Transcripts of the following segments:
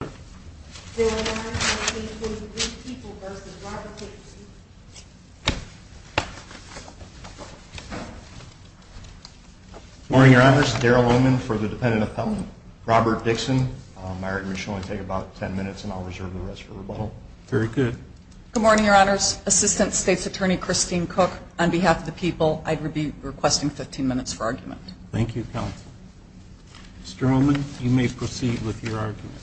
Good morning, Your Honors. Assistant State's Attorney Christine Cook. On behalf of the people, I'd be requesting 15 minutes for argument. Thank you, Counsel. Mr. Oman, you may proceed with your argument.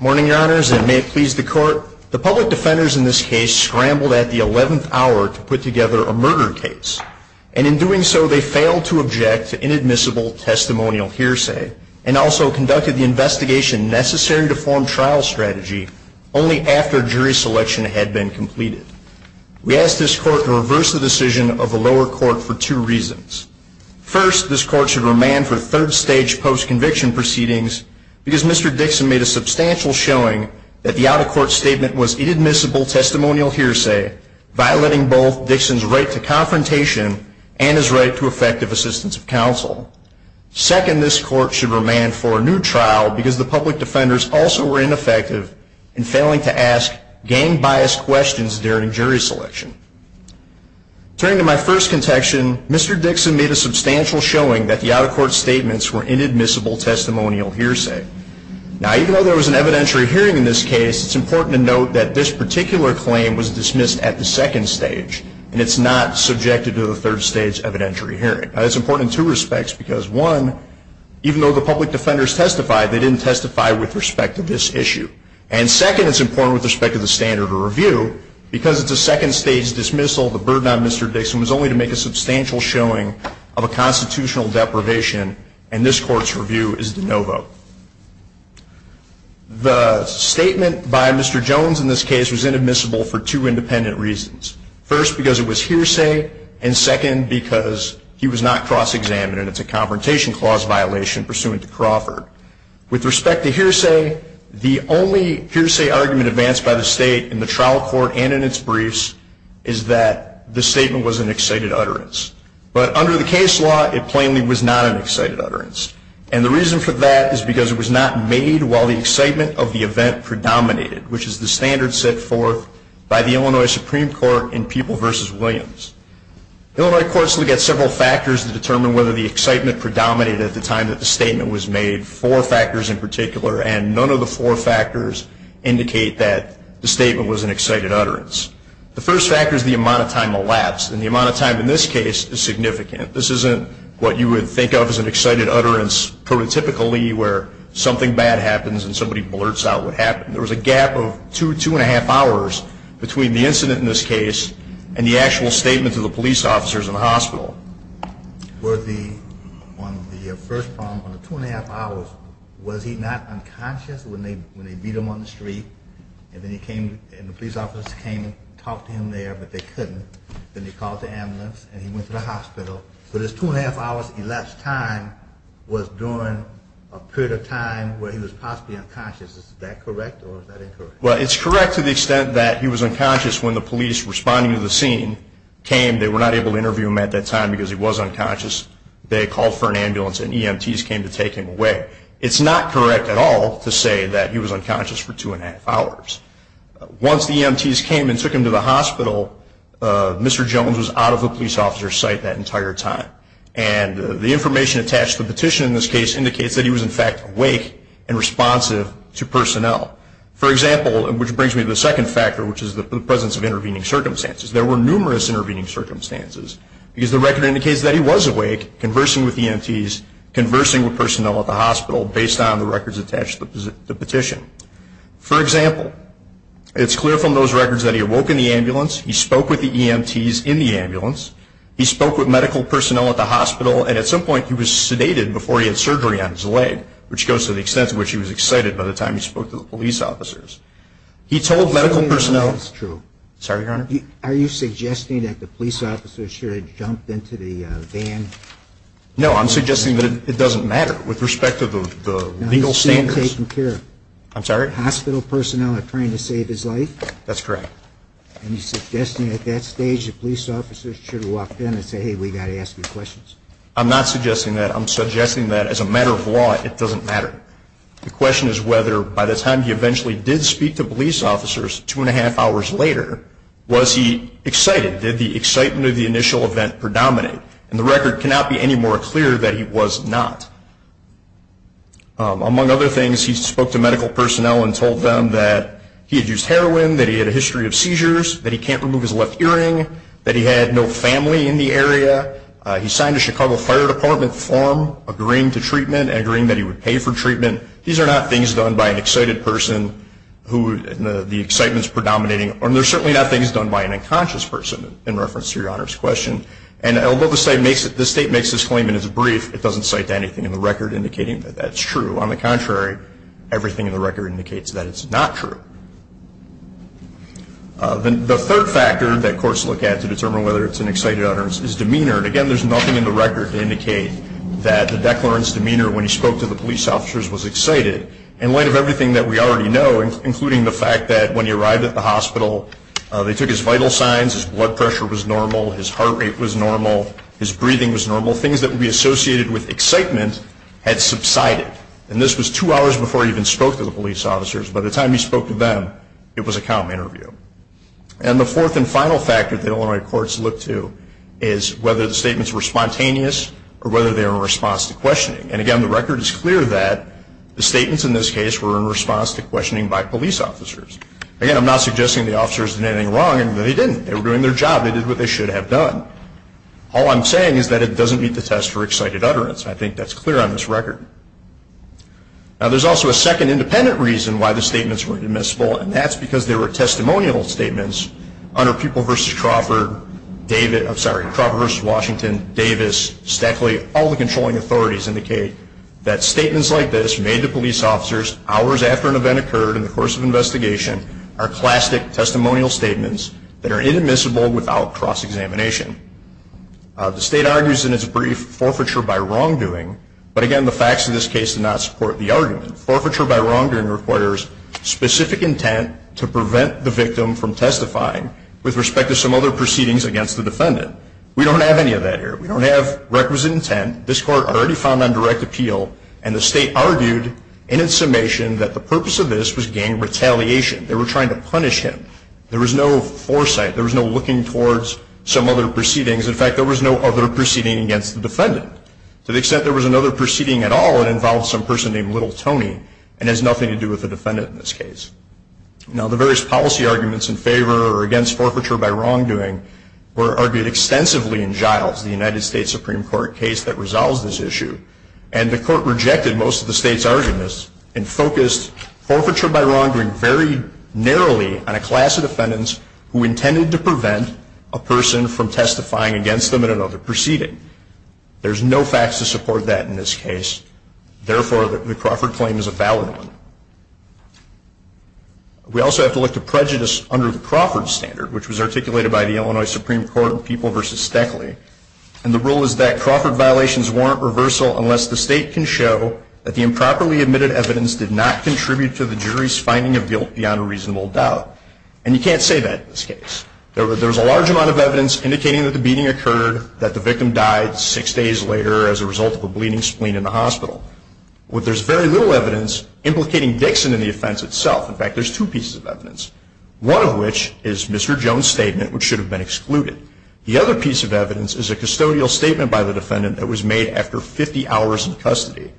Morning, Your Honors, and may it please the Court. The public defenders in this case scrambled at the 11th hour to put together a murder case, and in doing so they failed to object to inadmissible testimonial hearsay, and also conducted the investigation necessary to form trial strategy, only after jury selection had been completed. We ask this Court to reverse the decision of the lower court for two reasons. First, this Court should remand for third-stage post-conviction proceedings, because Mr. Dixon made a substantial showing that the out-of-court statement was inadmissible testimonial hearsay, violating both Dixon's right to confrontation and his right to effective assistance of counsel. Second, this Court should remand for a new trial, because the public defenders also were ineffective in failing to ask gang-biased questions during jury selection. Returning to my first contention, Mr. Dixon made a substantial showing that the out-of-court statements were inadmissible testimonial hearsay. Now, even though there was an evidentiary hearing in this case, it's important to note that this particular claim was dismissed at the second stage, and it's not subjected to the third-stage evidentiary hearing. Now, that's important in two respects, because, one, even though the public defenders testified, they didn't testify with respect to this issue. And second, it's important with respect to the standard of review, because it's a second-stage dismissal, the burden on Mr. Dixon was only to make a substantial showing of a constitutional deprivation, and this Court's review is de novo. The statement by Mr. Jones in this case was inadmissible for two independent reasons. First, because it was hearsay, and second, because he was not cross-examined, and it's a Confrontation Clause violation pursuant to Crawford. With respect to hearsay, the only hearsay argument advanced by the State in the trial court and in its briefs is that the statement was an excited utterance. But under the case law, it plainly was not an excited utterance. And the reason for that is because it was not made while the excitement of the event predominated, which is the standard set forth by the Illinois Supreme Court in People v. Williams. Illinois courts look at several factors to determine whether the excitement predominated at the time that the statement was made, four factors in particular, and none of the four factors indicate that the statement was an excited utterance. The first factor is the amount of time elapsed, and the amount of time in this case is significant. This isn't what you would think of as an excited utterance prototypically, where something bad happens and somebody blurts out what happened. There was a gap of two, two-and-a-half hours between the incident in this case and the actual statement to the police officers in the hospital. Were the, on the first problem, on the two-and-a-half hours, was he not unconscious when they beat him on the street? And then he came, and the police officers came and talked to him there, but they couldn't. Then they called the ambulance, and he went to the hospital. So this two-and-a-half hours elapsed time was during a period of time where he was possibly unconscious. Is that correct, or is that incorrect? Well, it's correct to the extent that he was unconscious when the police responding to the scene came. They were not able to interview him at that time because he was unconscious. They called for an ambulance, and EMTs came to take him away. It's not correct at all to say that he was unconscious for two-and-a-half hours. Once the EMTs came and took him to the hospital, Mr. Jones was out of the police officer's office that entire time. And the information attached to the petition in this case indicates that he was, in fact, awake and responsive to personnel. For example, which brings me to the second factor, which is the presence of intervening circumstances. There were numerous intervening circumstances because the record indicates that he was awake, conversing with EMTs, conversing with personnel at the hospital based on the records attached to the petition. For example, it's clear from those records that he awoke in the ambulance. He spoke with the EMTs in the ambulance. He spoke with medical personnel at the hospital. And at some point, he was sedated before he had surgery on his leg, which goes to the extent to which he was excited by the time he spoke to the police officers. He told medical personnel… I don't think that's true. I'm sorry, Your Honor? Are you suggesting that the police officers should have jumped into the van? No, I'm suggesting that it doesn't matter with respect to the legal standards. No, he was being taken care of. I'm sorry? Hospital personnel are trying to save his life? That's correct. Are you suggesting at that stage the police officers should have walked in and said, hey, we've got to ask you questions? I'm not suggesting that. I'm suggesting that as a matter of law, it doesn't matter. The question is whether by the time he eventually did speak to police officers, two and a half hours later, was he excited? Did the excitement of the initial event predominate? And the record cannot be any more clear that he was not. Among other things, he spoke to medical personnel and told them that he had used heroin, that he had a history of seizures, that he can't remove his left earring, that he had no family in the area. He signed a Chicago Fire Department form agreeing to treatment, agreeing that he would pay for treatment. These are not things done by an excited person who the excitement is predominating. And they're certainly not things done by an unconscious person in reference to Your Honor's question. And although the state makes this claim in its brief, it doesn't cite anything in the record indicating that that's true. On the contrary, everything in the record indicates that it's not true. The third factor that courts look at to determine whether it's an excited utterance is demeanor. And again, there's nothing in the record to indicate that the declarant's demeanor when he spoke to the police officers was excited. In light of everything that we already know, including the fact that when he arrived at the hospital, they took his vital signs, his blood pressure was normal, his heart rate was normal, his breathing was normal, things that would be associated with excitement had subsided. And this was two hours before he even spoke to the police officers. By the time he spoke to them, it was a calm interview. And the fourth and final factor that Illinois courts look to is whether the statements were spontaneous or whether they were in response to questioning. And again, the record is clear that the statements in this case were in response to questioning by police officers. Again, I'm not suggesting the officers did anything wrong, and they didn't. They were doing their job. They did what they should have done. All I'm saying is that it doesn't meet the test for excited utterance. I think that's clear on this record. Now, there's also a second independent reason why the statements weren't admissible, and that's because they were testimonial statements under Pupil v. Crawford, Davis, Stackley, all the controlling authorities indicate that statements like this made to police officers hours after an event occurred in the course of an investigation are classic testimonial statements that are inadmissible without cross-examination. The state argues in its brief forfeiture by wrongdoing, but again, the facts of this case do not support the argument. Forfeiture by wrongdoing requires specific intent to prevent the victim from testifying with respect to some other proceedings against the defendant. We don't have any of that here. We don't have requisite intent. This Court already found on direct appeal, and the state argued in its summation that the purpose of this was gang retaliation. They were trying to punish him. There was no foresight. There was no looking towards some other proceedings. In fact, there was another proceeding against the defendant. To the extent there was another proceeding at all, it involved some person named Little Tony, and it has nothing to do with the defendant in this case. Now, the various policy arguments in favor or against forfeiture by wrongdoing were argued extensively in Giles, the United States Supreme Court case that resolves this issue, and the Court rejected most of the state's arguments and focused forfeiture by wrongdoing very narrowly on a class of defendants who intended to prevent a person from testifying against them in another proceeding. There's no facts to support that in this case. Therefore, the Crawford claim is a valid one. We also have to look to prejudice under the Crawford standard, which was articulated by the Illinois Supreme Court in People v. Stoeckle. And the rule is that Crawford violations warrant reversal unless the state can show that the improperly admitted evidence did not contribute to the jury's finding of guilt beyond a reasonable doubt. And you can't say that in this case. There was a large amount of evidence indicating that the beating occurred, that the victim died six days later as a result of a bleeding spleen in the hospital. But there's very little evidence implicating Dixon in the offense itself. In fact, there's two pieces of evidence, one of which is Mr. Jones' statement, which should have been excluded. The other piece of evidence is a custodial statement by the defendant that was made after 50 hours in custody.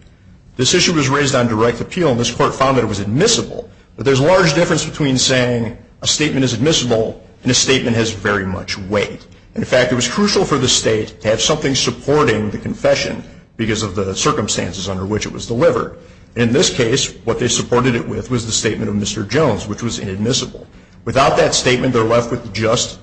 This issue was raised on direct appeal, and this Court found that was admissible. But there's a large difference between saying a statement is admissible and a statement has very much weight. In fact, it was crucial for the state to have something supporting the confession because of the circumstances under which it was delivered. In this case, what they supported it with was the statement of Mr. Jones, which was inadmissible. Without that statement, they're left with just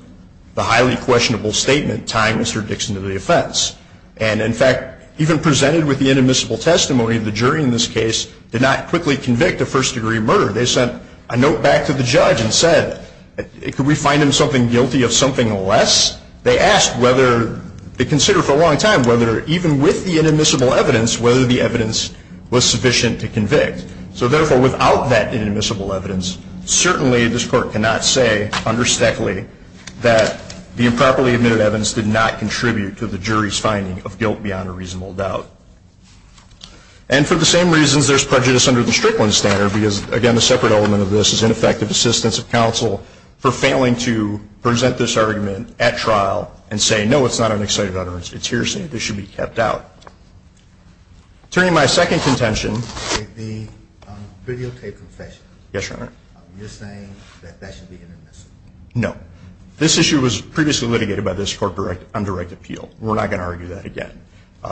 the highly questionable statement tying Mr. Dixon to the offense. And in fact, even presented with the inadmissible testimony, the jury in this case did not quickly convict a first-degree murder. They sent a note back to the judge and said, could we find him something guilty of something less? They asked whether to consider for a long time whether even with the inadmissible evidence, whether the evidence was sufficient to convict. So therefore, without that inadmissible evidence, certainly this Court cannot say under Stoeckley that the improperly admitted evidence did not contribute to the jury's finding of guilt beyond a reasonable doubt. And for the same reasons, there's prejudice under the Strickland standard because, again, the separate element of this is ineffective assistance of counsel for failing to present this argument at trial and say, no, it's not an excited utterance, it's hearsay. This should be kept out. Turning to my second contention, the videotaped confession, you're saying that that should be inadmissible? No. This issue was previously litigated by this Court on direct appeal. We're not going to argue that again.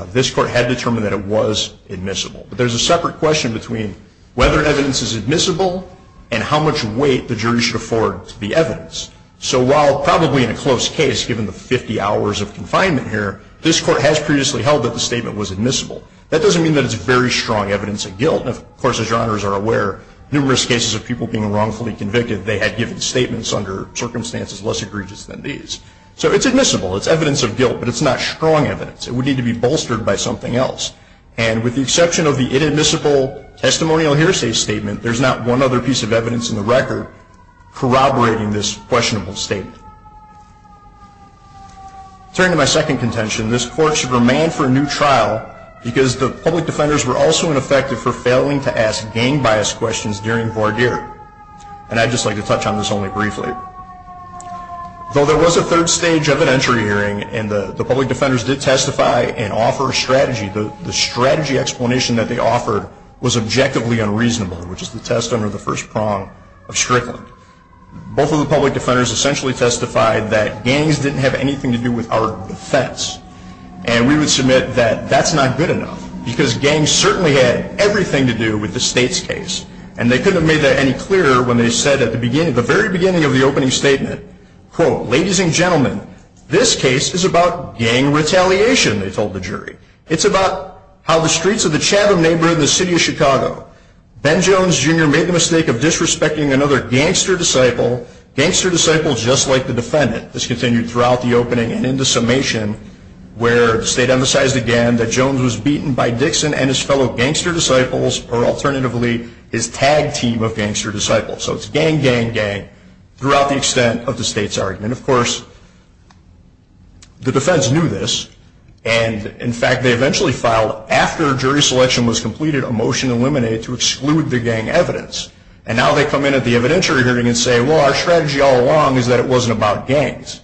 This Court had determined that it was admissible. But there's a separate question between whether evidence is admissible and how much weight the jury should afford to the evidence. So while probably in a close case, given the 50 hours of confinement here, this Court has previously held that the statement was admissible. That doesn't mean that it's very strong evidence of guilt. Of course, as Your Honors are aware, numerous cases of people being wrongfully convicted, they had given statements under circumstances less egregious than these. So it's admissible. It's evidence of guilt. But it's not strong evidence. It would need to be bolstered by something else. And with the exception of the inadmissible testimonial hearsay statement, there's not one other piece of evidence in the record corroborating this questionable statement. Turning to my second contention, this Court should remand for a new trial because the public defenders were also ineffective for failing to ask gang bias questions during And I'd just like to touch on this only briefly. Though there was a third stage of an entry hearing and the public defenders did testify and offer a strategy, the strategy explanation that they offered was objectively unreasonable, which is the test under the first prong of Strickland. Both of the public defenders essentially testified that gangs didn't have anything to do with our defense. And we would submit that that's not good enough because gangs certainly had everything to do with the state's case. And they couldn't have made that any clearer when they said at the very beginning of the opening statement, quote, ladies and gentlemen, this case is about gang retaliation, they told the jury. It's about how the streets of the Chatham neighborhood in the city of Chicago. Ben Jones, Jr. made the mistake of disrespecting another gangster disciple, gangster disciple just like the defendant. This continued throughout the opening and in the summation where the state emphasized again that Jones was beaten by Dixon and his fellow gangster disciples or alternatively his tag team of gangster disciples. So it's gang, gang, gang throughout the extent of the state's argument. Of course, the defense knew this. And in fact, they eventually filed after jury selection was completed a motion eliminated to exclude the gang evidence. And now they come in at the evidentiary hearing and say, well, our strategy all along is that it wasn't about gangs.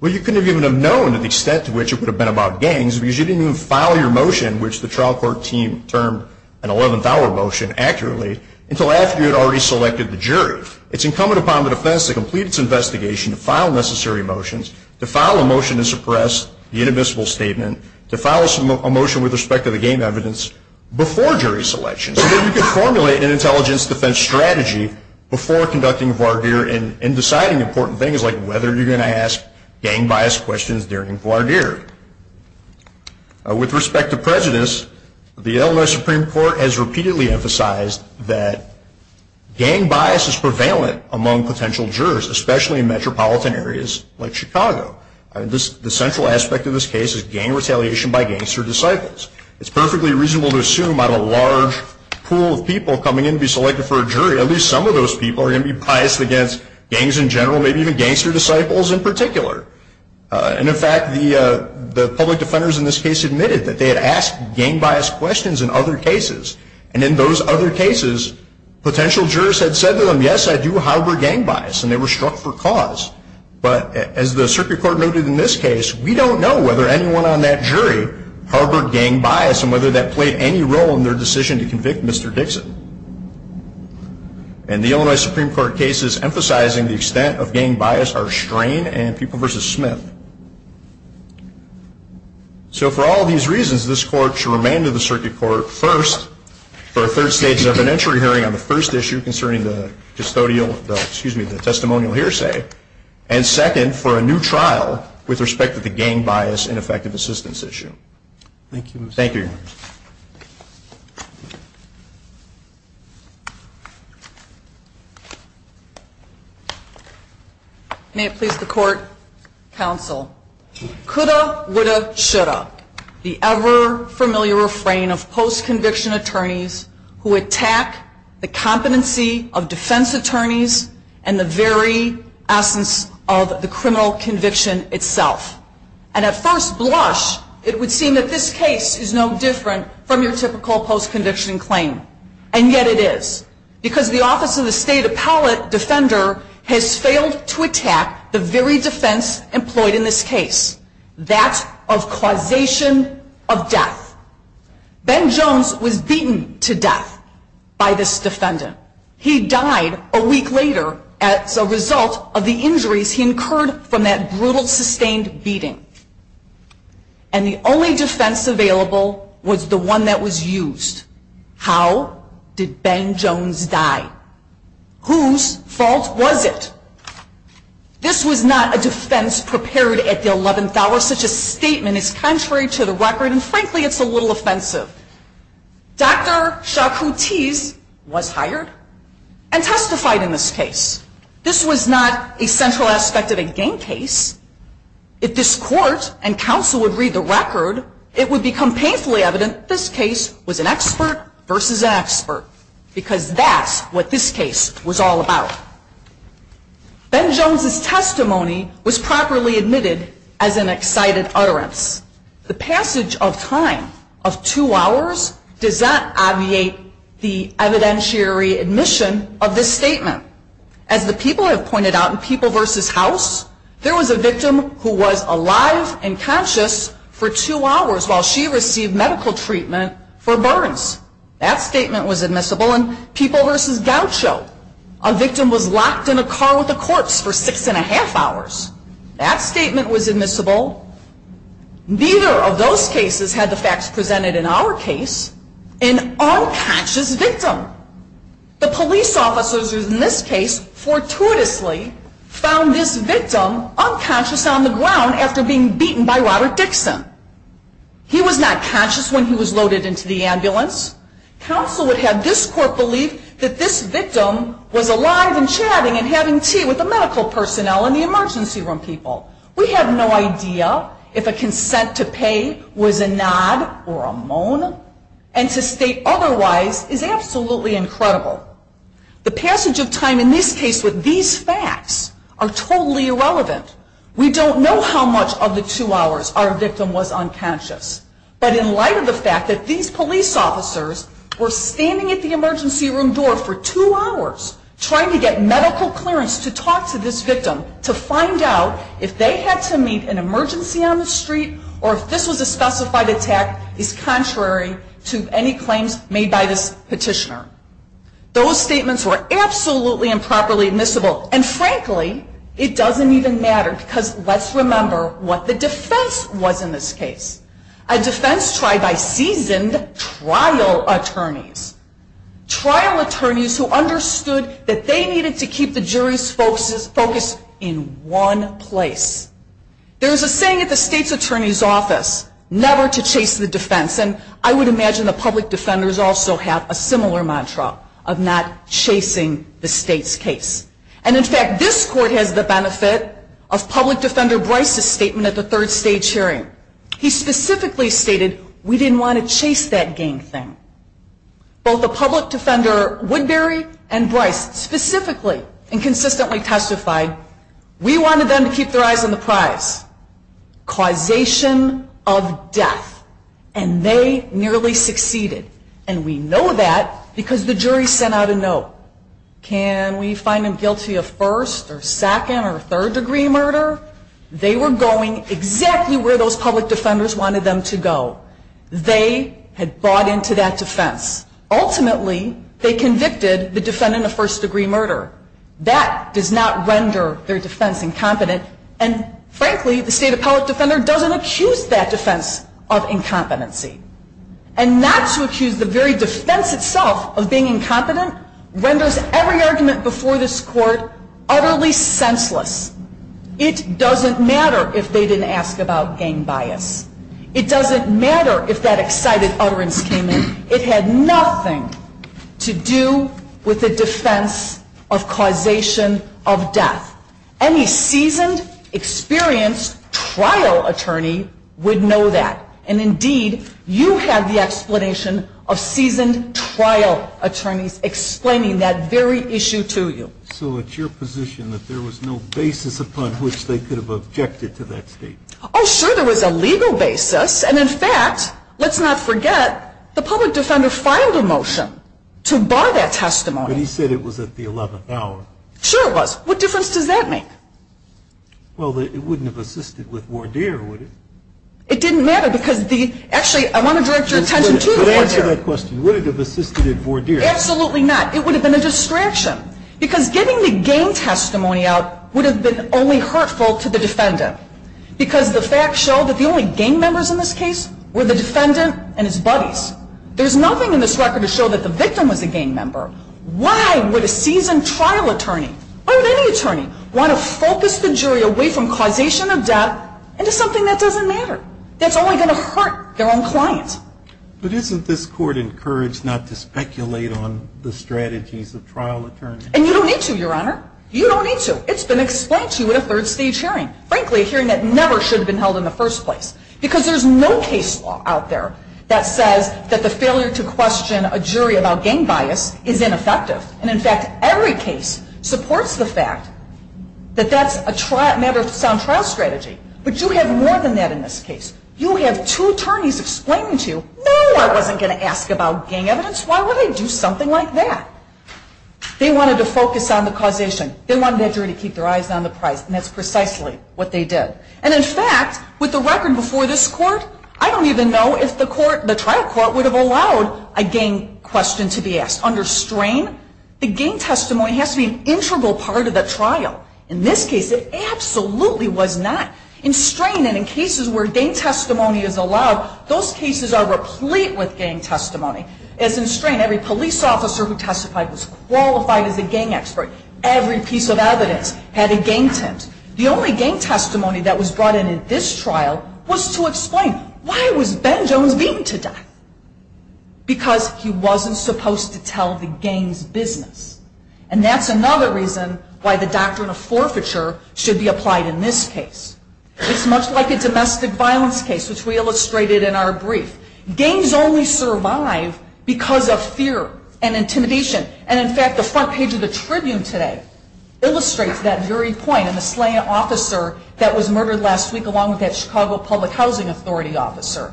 Well, you couldn't have even have known to the extent to which it would have been about gangs because you didn't even file your motion, which the trial court team termed an 11th hour motion accurately, until after you had already selected the jury. It's incumbent upon the defense to complete its investigation, to file necessary motions, to file a motion to suppress the inadmissible statement, to file a motion with respect to the gang evidence before jury selection so that you could formulate an intelligence defense strategy before conducting voir dire and deciding important things like whether you're going to ask gang biased questions during voir dire. With respect to prejudice, the Illinois Supreme Court has repeatedly emphasized that gang bias is prevalent among potential jurors, especially in metropolitan areas like Chicago. The central aspect of this case is gang retaliation by gangster disciples. It's perfectly reasonable to assume out of a large pool of people coming in to be selected for a jury, at least some of those people are going to be biased against gangs in general, maybe even gangster disciples in particular. And in fact, the public defenders in this case admitted that they had asked gang biased questions in other cases. And in those other cases, potential jurors had said to them, yes, I do harbor gang bias and they were struck for cause. But as the circuit court noted in this case, we don't know whether anyone on that jury harbored gang bias and whether that played any role in their decision to convict Mr. Dixon. And the Illinois Supreme Court cases emphasizing the extent of gang bias are Strain and Pupil v. Smith. So for all these reasons, this court should remand to the circuit court, first, for a third stage of an entry hearing on the first issue concerning the testimonial hearsay, and second, for a new trial with respect to the gang bias and effective assistance issue. Thank you. Thank you. Thank you. May it please the court, counsel. Coulda, woulda, shoulda. The ever-familiar refrain of post-conviction attorneys who attack the competency of defense attorneys and the very defense employed in this case, that of causation of death. Ben Jones was beaten to death by this defendant. He died a week later as a result of the injuries he incurred from that brutal, sustained beating. And the only defense available was the one that was used. How did Ben Jones die? Whose fault was it? This was not a defense prepared at the eleventh hour. Such a statement is contrary to the record, and frankly, it's a little offensive. Dr. Shaqu Tease was hired and testified in this case. This was not a central aspect of a gang case. If this court and counsel would read the record, it would become painfully evident this case was an expert versus an expert, because that's what this case was all about. Ben Jones' testimony was properly admitted as an excited utterance. The passage of time of two hours does not obviate the evidentiary admission of this statement. As the people have pointed out in People v. House, there was a victim who was alive and conscious for two hours while she received medical treatment for burns. That statement was admissible in People v. Gaucho. A victim was locked in a car with a corpse for six and a half hours. That statement was admissible. Neither of those cases had the facts presented in our case an unconscious victim. The police officers in this case fortuitously found this victim unconscious on the ground after being beaten by Robert Dixon. He was not conscious when he was loaded into the ambulance. Counsel would have this court believe that this victim was alive and chatting and having tea with the medical personnel and the emergency room people. We have no idea if a consent to pay was a nod or a moan, and to state otherwise is absolutely incredible. The passage of time in this case with these facts are totally irrelevant. We don't know how much of the two hours our victim was unconscious, but in light of the fact that these police officers were standing at the emergency room door for if they had to meet an emergency on the street or if this was a specified attack is contrary to any claims made by this petitioner. Those statements were absolutely improperly admissible and frankly it doesn't even matter because let's remember what the defense was in this case. A defense tried by seasoned trial attorneys. Trial attorneys who understood that they needed to keep the jury's focus in one place. There is a saying at the state's attorney's office, never to chase the defense, and I would imagine the public defenders also have a similar mantra of not chasing the state's case. And in fact, this court has the benefit of public defender Bryce's statement at the third stage hearing. He specifically stated we didn't want to chase that gang thing. Both the public defender Woodbury and Bryce specifically and consistently testified we wanted them to keep their eyes on the prize. Causation of death. And they nearly succeeded. And we know that because the jury sent out a note. Can we find them guilty of first or second or third degree murder? They were going exactly where those public defenders wanted them to go. They had bought into that defense. Ultimately they convicted the defendant of first degree murder. That does not render their defense incompetent and frankly the state of public defender doesn't accuse that defense of incompetency. And not to accuse the very defense itself of being incompetent renders every argument before this court utterly senseless. It doesn't matter if they didn't ask about gang bias. It doesn't matter if that excited utterance came in. It had nothing to do with the defense of causation of death. Any seasoned, experienced trial attorney would know that. And indeed, you have the explanation of seasoned trial attorneys explaining that very issue to you. So it's your position that there was no basis upon which they could have objected to that testimony? Oh sure, there was a legal basis. And in fact, let's not forget, the public defender filed a motion to bar that testimony. But he said it was at the 11th hour. Sure it was. What difference does that make? Well it wouldn't have assisted with voir dire, would it? It didn't matter because the, actually I want to direct your attention to the voir dire. But answer that question. Would it have assisted in voir dire? Absolutely not. It would have been a distraction. Because getting the gang testimony out would have been only hurtful to the defendant. Because the facts show that the only gang members in this case were the defendant and his buddies. There's nothing in this record to show that the victim was a gang member. Why would a seasoned trial attorney, why would any attorney want to focus the jury away from causation of death into something that doesn't matter? That's only going to hurt their own clients. But isn't this court encouraged not to speculate on the strategies of trial attorneys? And you don't need to, your honor. You don't need to. It's been explained to you in a third stage hearing. Frankly, a hearing that never should have been held in the first place. Because there's no case law out there that says that the failure to question a jury about gang bias is ineffective. And in fact, every case supports the fact that that's a matter of sound trial strategy. But you have more than that in this case. You have two attorneys explaining to you, no, I wasn't going to ask about gang evidence. Why would I do something like that? They wanted to focus on the causation. They wanted the jury to keep their eyes on the prize. And that's precisely what they did. And in fact, with the record before this court, I don't even know if the trial court would have allowed a gang question to be asked. Under strain, the gang testimony has to be an integral part of the trial. In this case, it absolutely was not. In strain and in cases where gang testimony is allowed, those cases are replete with gang testimony. As in strain, every police officer who testified was qualified as a gang expert. Every piece of evidence had a gang tint. The only gang testimony that was brought in at this trial was to explain why was Ben Jones beaten to death? Because he wasn't supposed to tell the gang's business. And that's another reason why the doctrine of forfeiture should be applied in this case. It's much like a domestic violence case, which we illustrated in our brief. Gangs only survive because of fear and intimidation. And in fact, the front page of the Tribune today illustrates that very point in the slaying officer that was murdered last week along with that Chicago Public Housing Authority officer.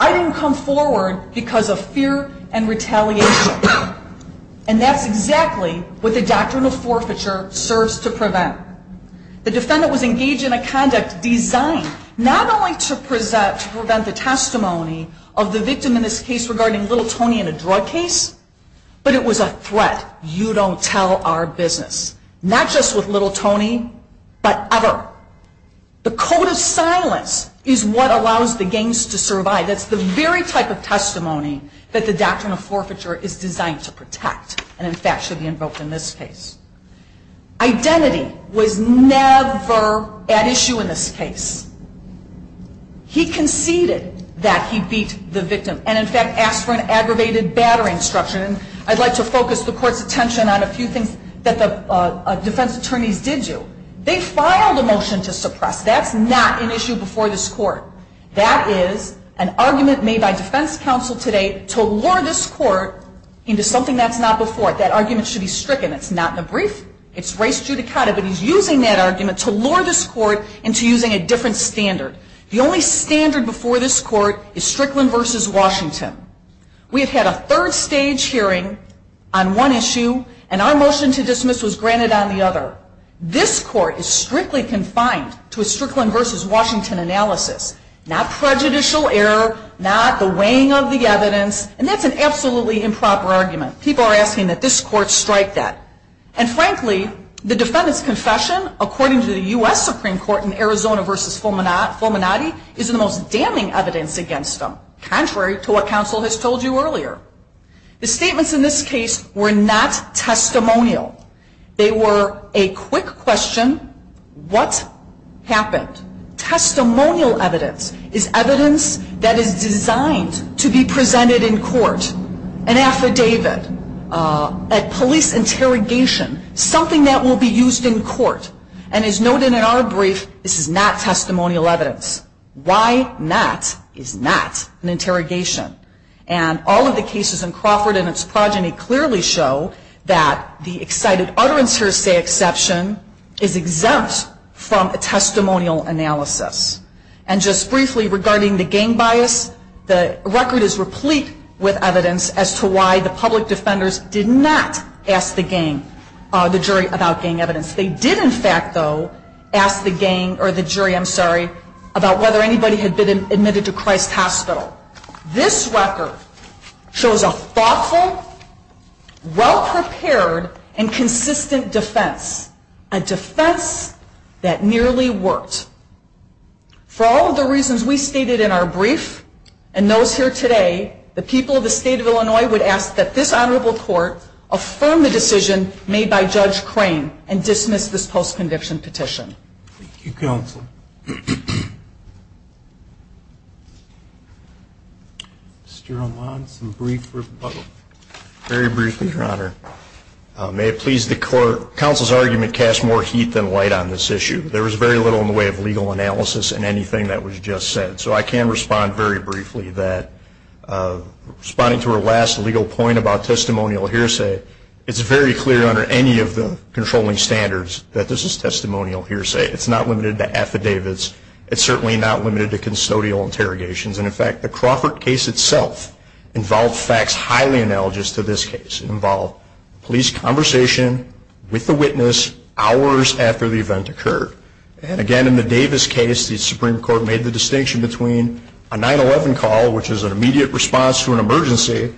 I didn't come forward because of fear and retaliation. And that's exactly what the doctrine of forfeiture serves to prevent. The defendant was engaged in a conduct designed not only to prevent the testimony of the victim in this case regarding Little Tony in a drug case, but it was a threat. You don't tell our business. Not just with Little Tony, but ever. The code of silence is what allows the gangs to survive. That's the very type of testimony that the doctrine of forfeiture is designed to protect and in fact should be invoked in this case. Identity was never at issue in this case. He conceded that he beat the victim and in fact asked for an aggravated battering structure. And I'd like to focus the court's attention on a few things that the defense attorneys did do. They filed a motion to suppress. That's not an issue before this court. That is an argument made by defense counsel today to lure this court into something that's not before it. That argument should be stricken. It's not in a brief. It's res judicata, but he's using that argument to lure this court into using a different standard. The only standard before this court is Strickland v. Washington. We have had a third stage hearing on one issue and our motion to dismiss was granted on the other. This court is strictly confined to a Strickland v. Washington analysis. Not prejudicial error, not the weighing of the evidence, and that's an absolutely improper argument. People are asking that this court strike that. And frankly, the defendant's confession, according to the U.S. Supreme Court in Arizona v. Fulminati, is the most damning evidence against them, contrary to what counsel has told you earlier. The statements in this case were not testimonial. They were a quick question, what happened? Testimonial evidence is evidence that is designed to be presented in court, an affidavit, a police interrogation, something that will be used in court. And as noted in our brief, this is not testimonial evidence. Why not is not an interrogation. And all of the cases in Crawford and its progeny clearly show that the excited utterance hearsay exception is exempt from a testimonial analysis. And just briefly regarding the gang bias, the record is replete with evidence as to why the public did in fact, though, ask the gang or the jury, I'm sorry, about whether anybody had been admitted to Christ Hospital. This record shows a thoughtful, well-prepared, and consistent defense, a defense that nearly worked. For all of the reasons we stated in our brief and those here today, the people of the state of Illinois would ask that this honorable court affirm the decision made by Judge Crane and dismiss this post-conviction petition. Thank you, counsel. Mr. Roman, some brief rebuttal. Very briefly, Your Honor. May it please the court, counsel's argument casts more heat than light on this issue. There was very little in the way of legal analysis in anything that was just said. So I can respond very briefly that responding to her last legal point about testimonial hearsay, it's very clear under any of the controlling standards that this is testimonial hearsay. It's not limited to affidavits. It's certainly not limited to custodial interrogations. And in fact, the Crawford case itself involved facts highly analogous to this case. It involved police conversation with the witness hours after the event occurred. And again, in the Davis case, the Supreme Court made the distinction between a 9-11 call, which is an immediate response to an emergency,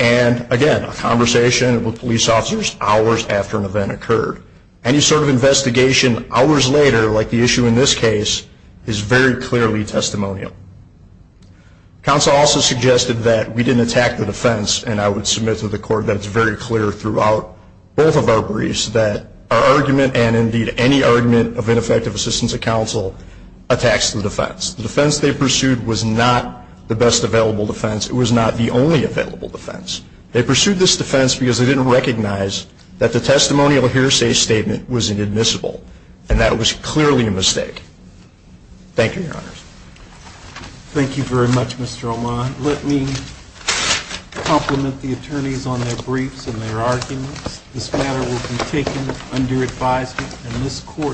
and again, a conversation with police officers hours after an event occurred. Any sort of investigation hours later, like the issue in this case, is very clearly testimonial. Counsel also suggested that we didn't attack the defense, and I would submit to the court that it's very clear throughout both of our briefs that our argument and indeed any argument of ineffective assistance of counsel attacks the defense. The defense they pursued was not the best available defense. It was not the only available defense. They pursued this defense because they didn't recognize that the testimonial hearsay statement was inadmissible, and that was clearly a mistake. Thank you, Your Honors. Thank you very much, Mr. O'Mahon. Let me compliment the attorneys on their briefs and their arguments. This matter will be taken under advisement in this court.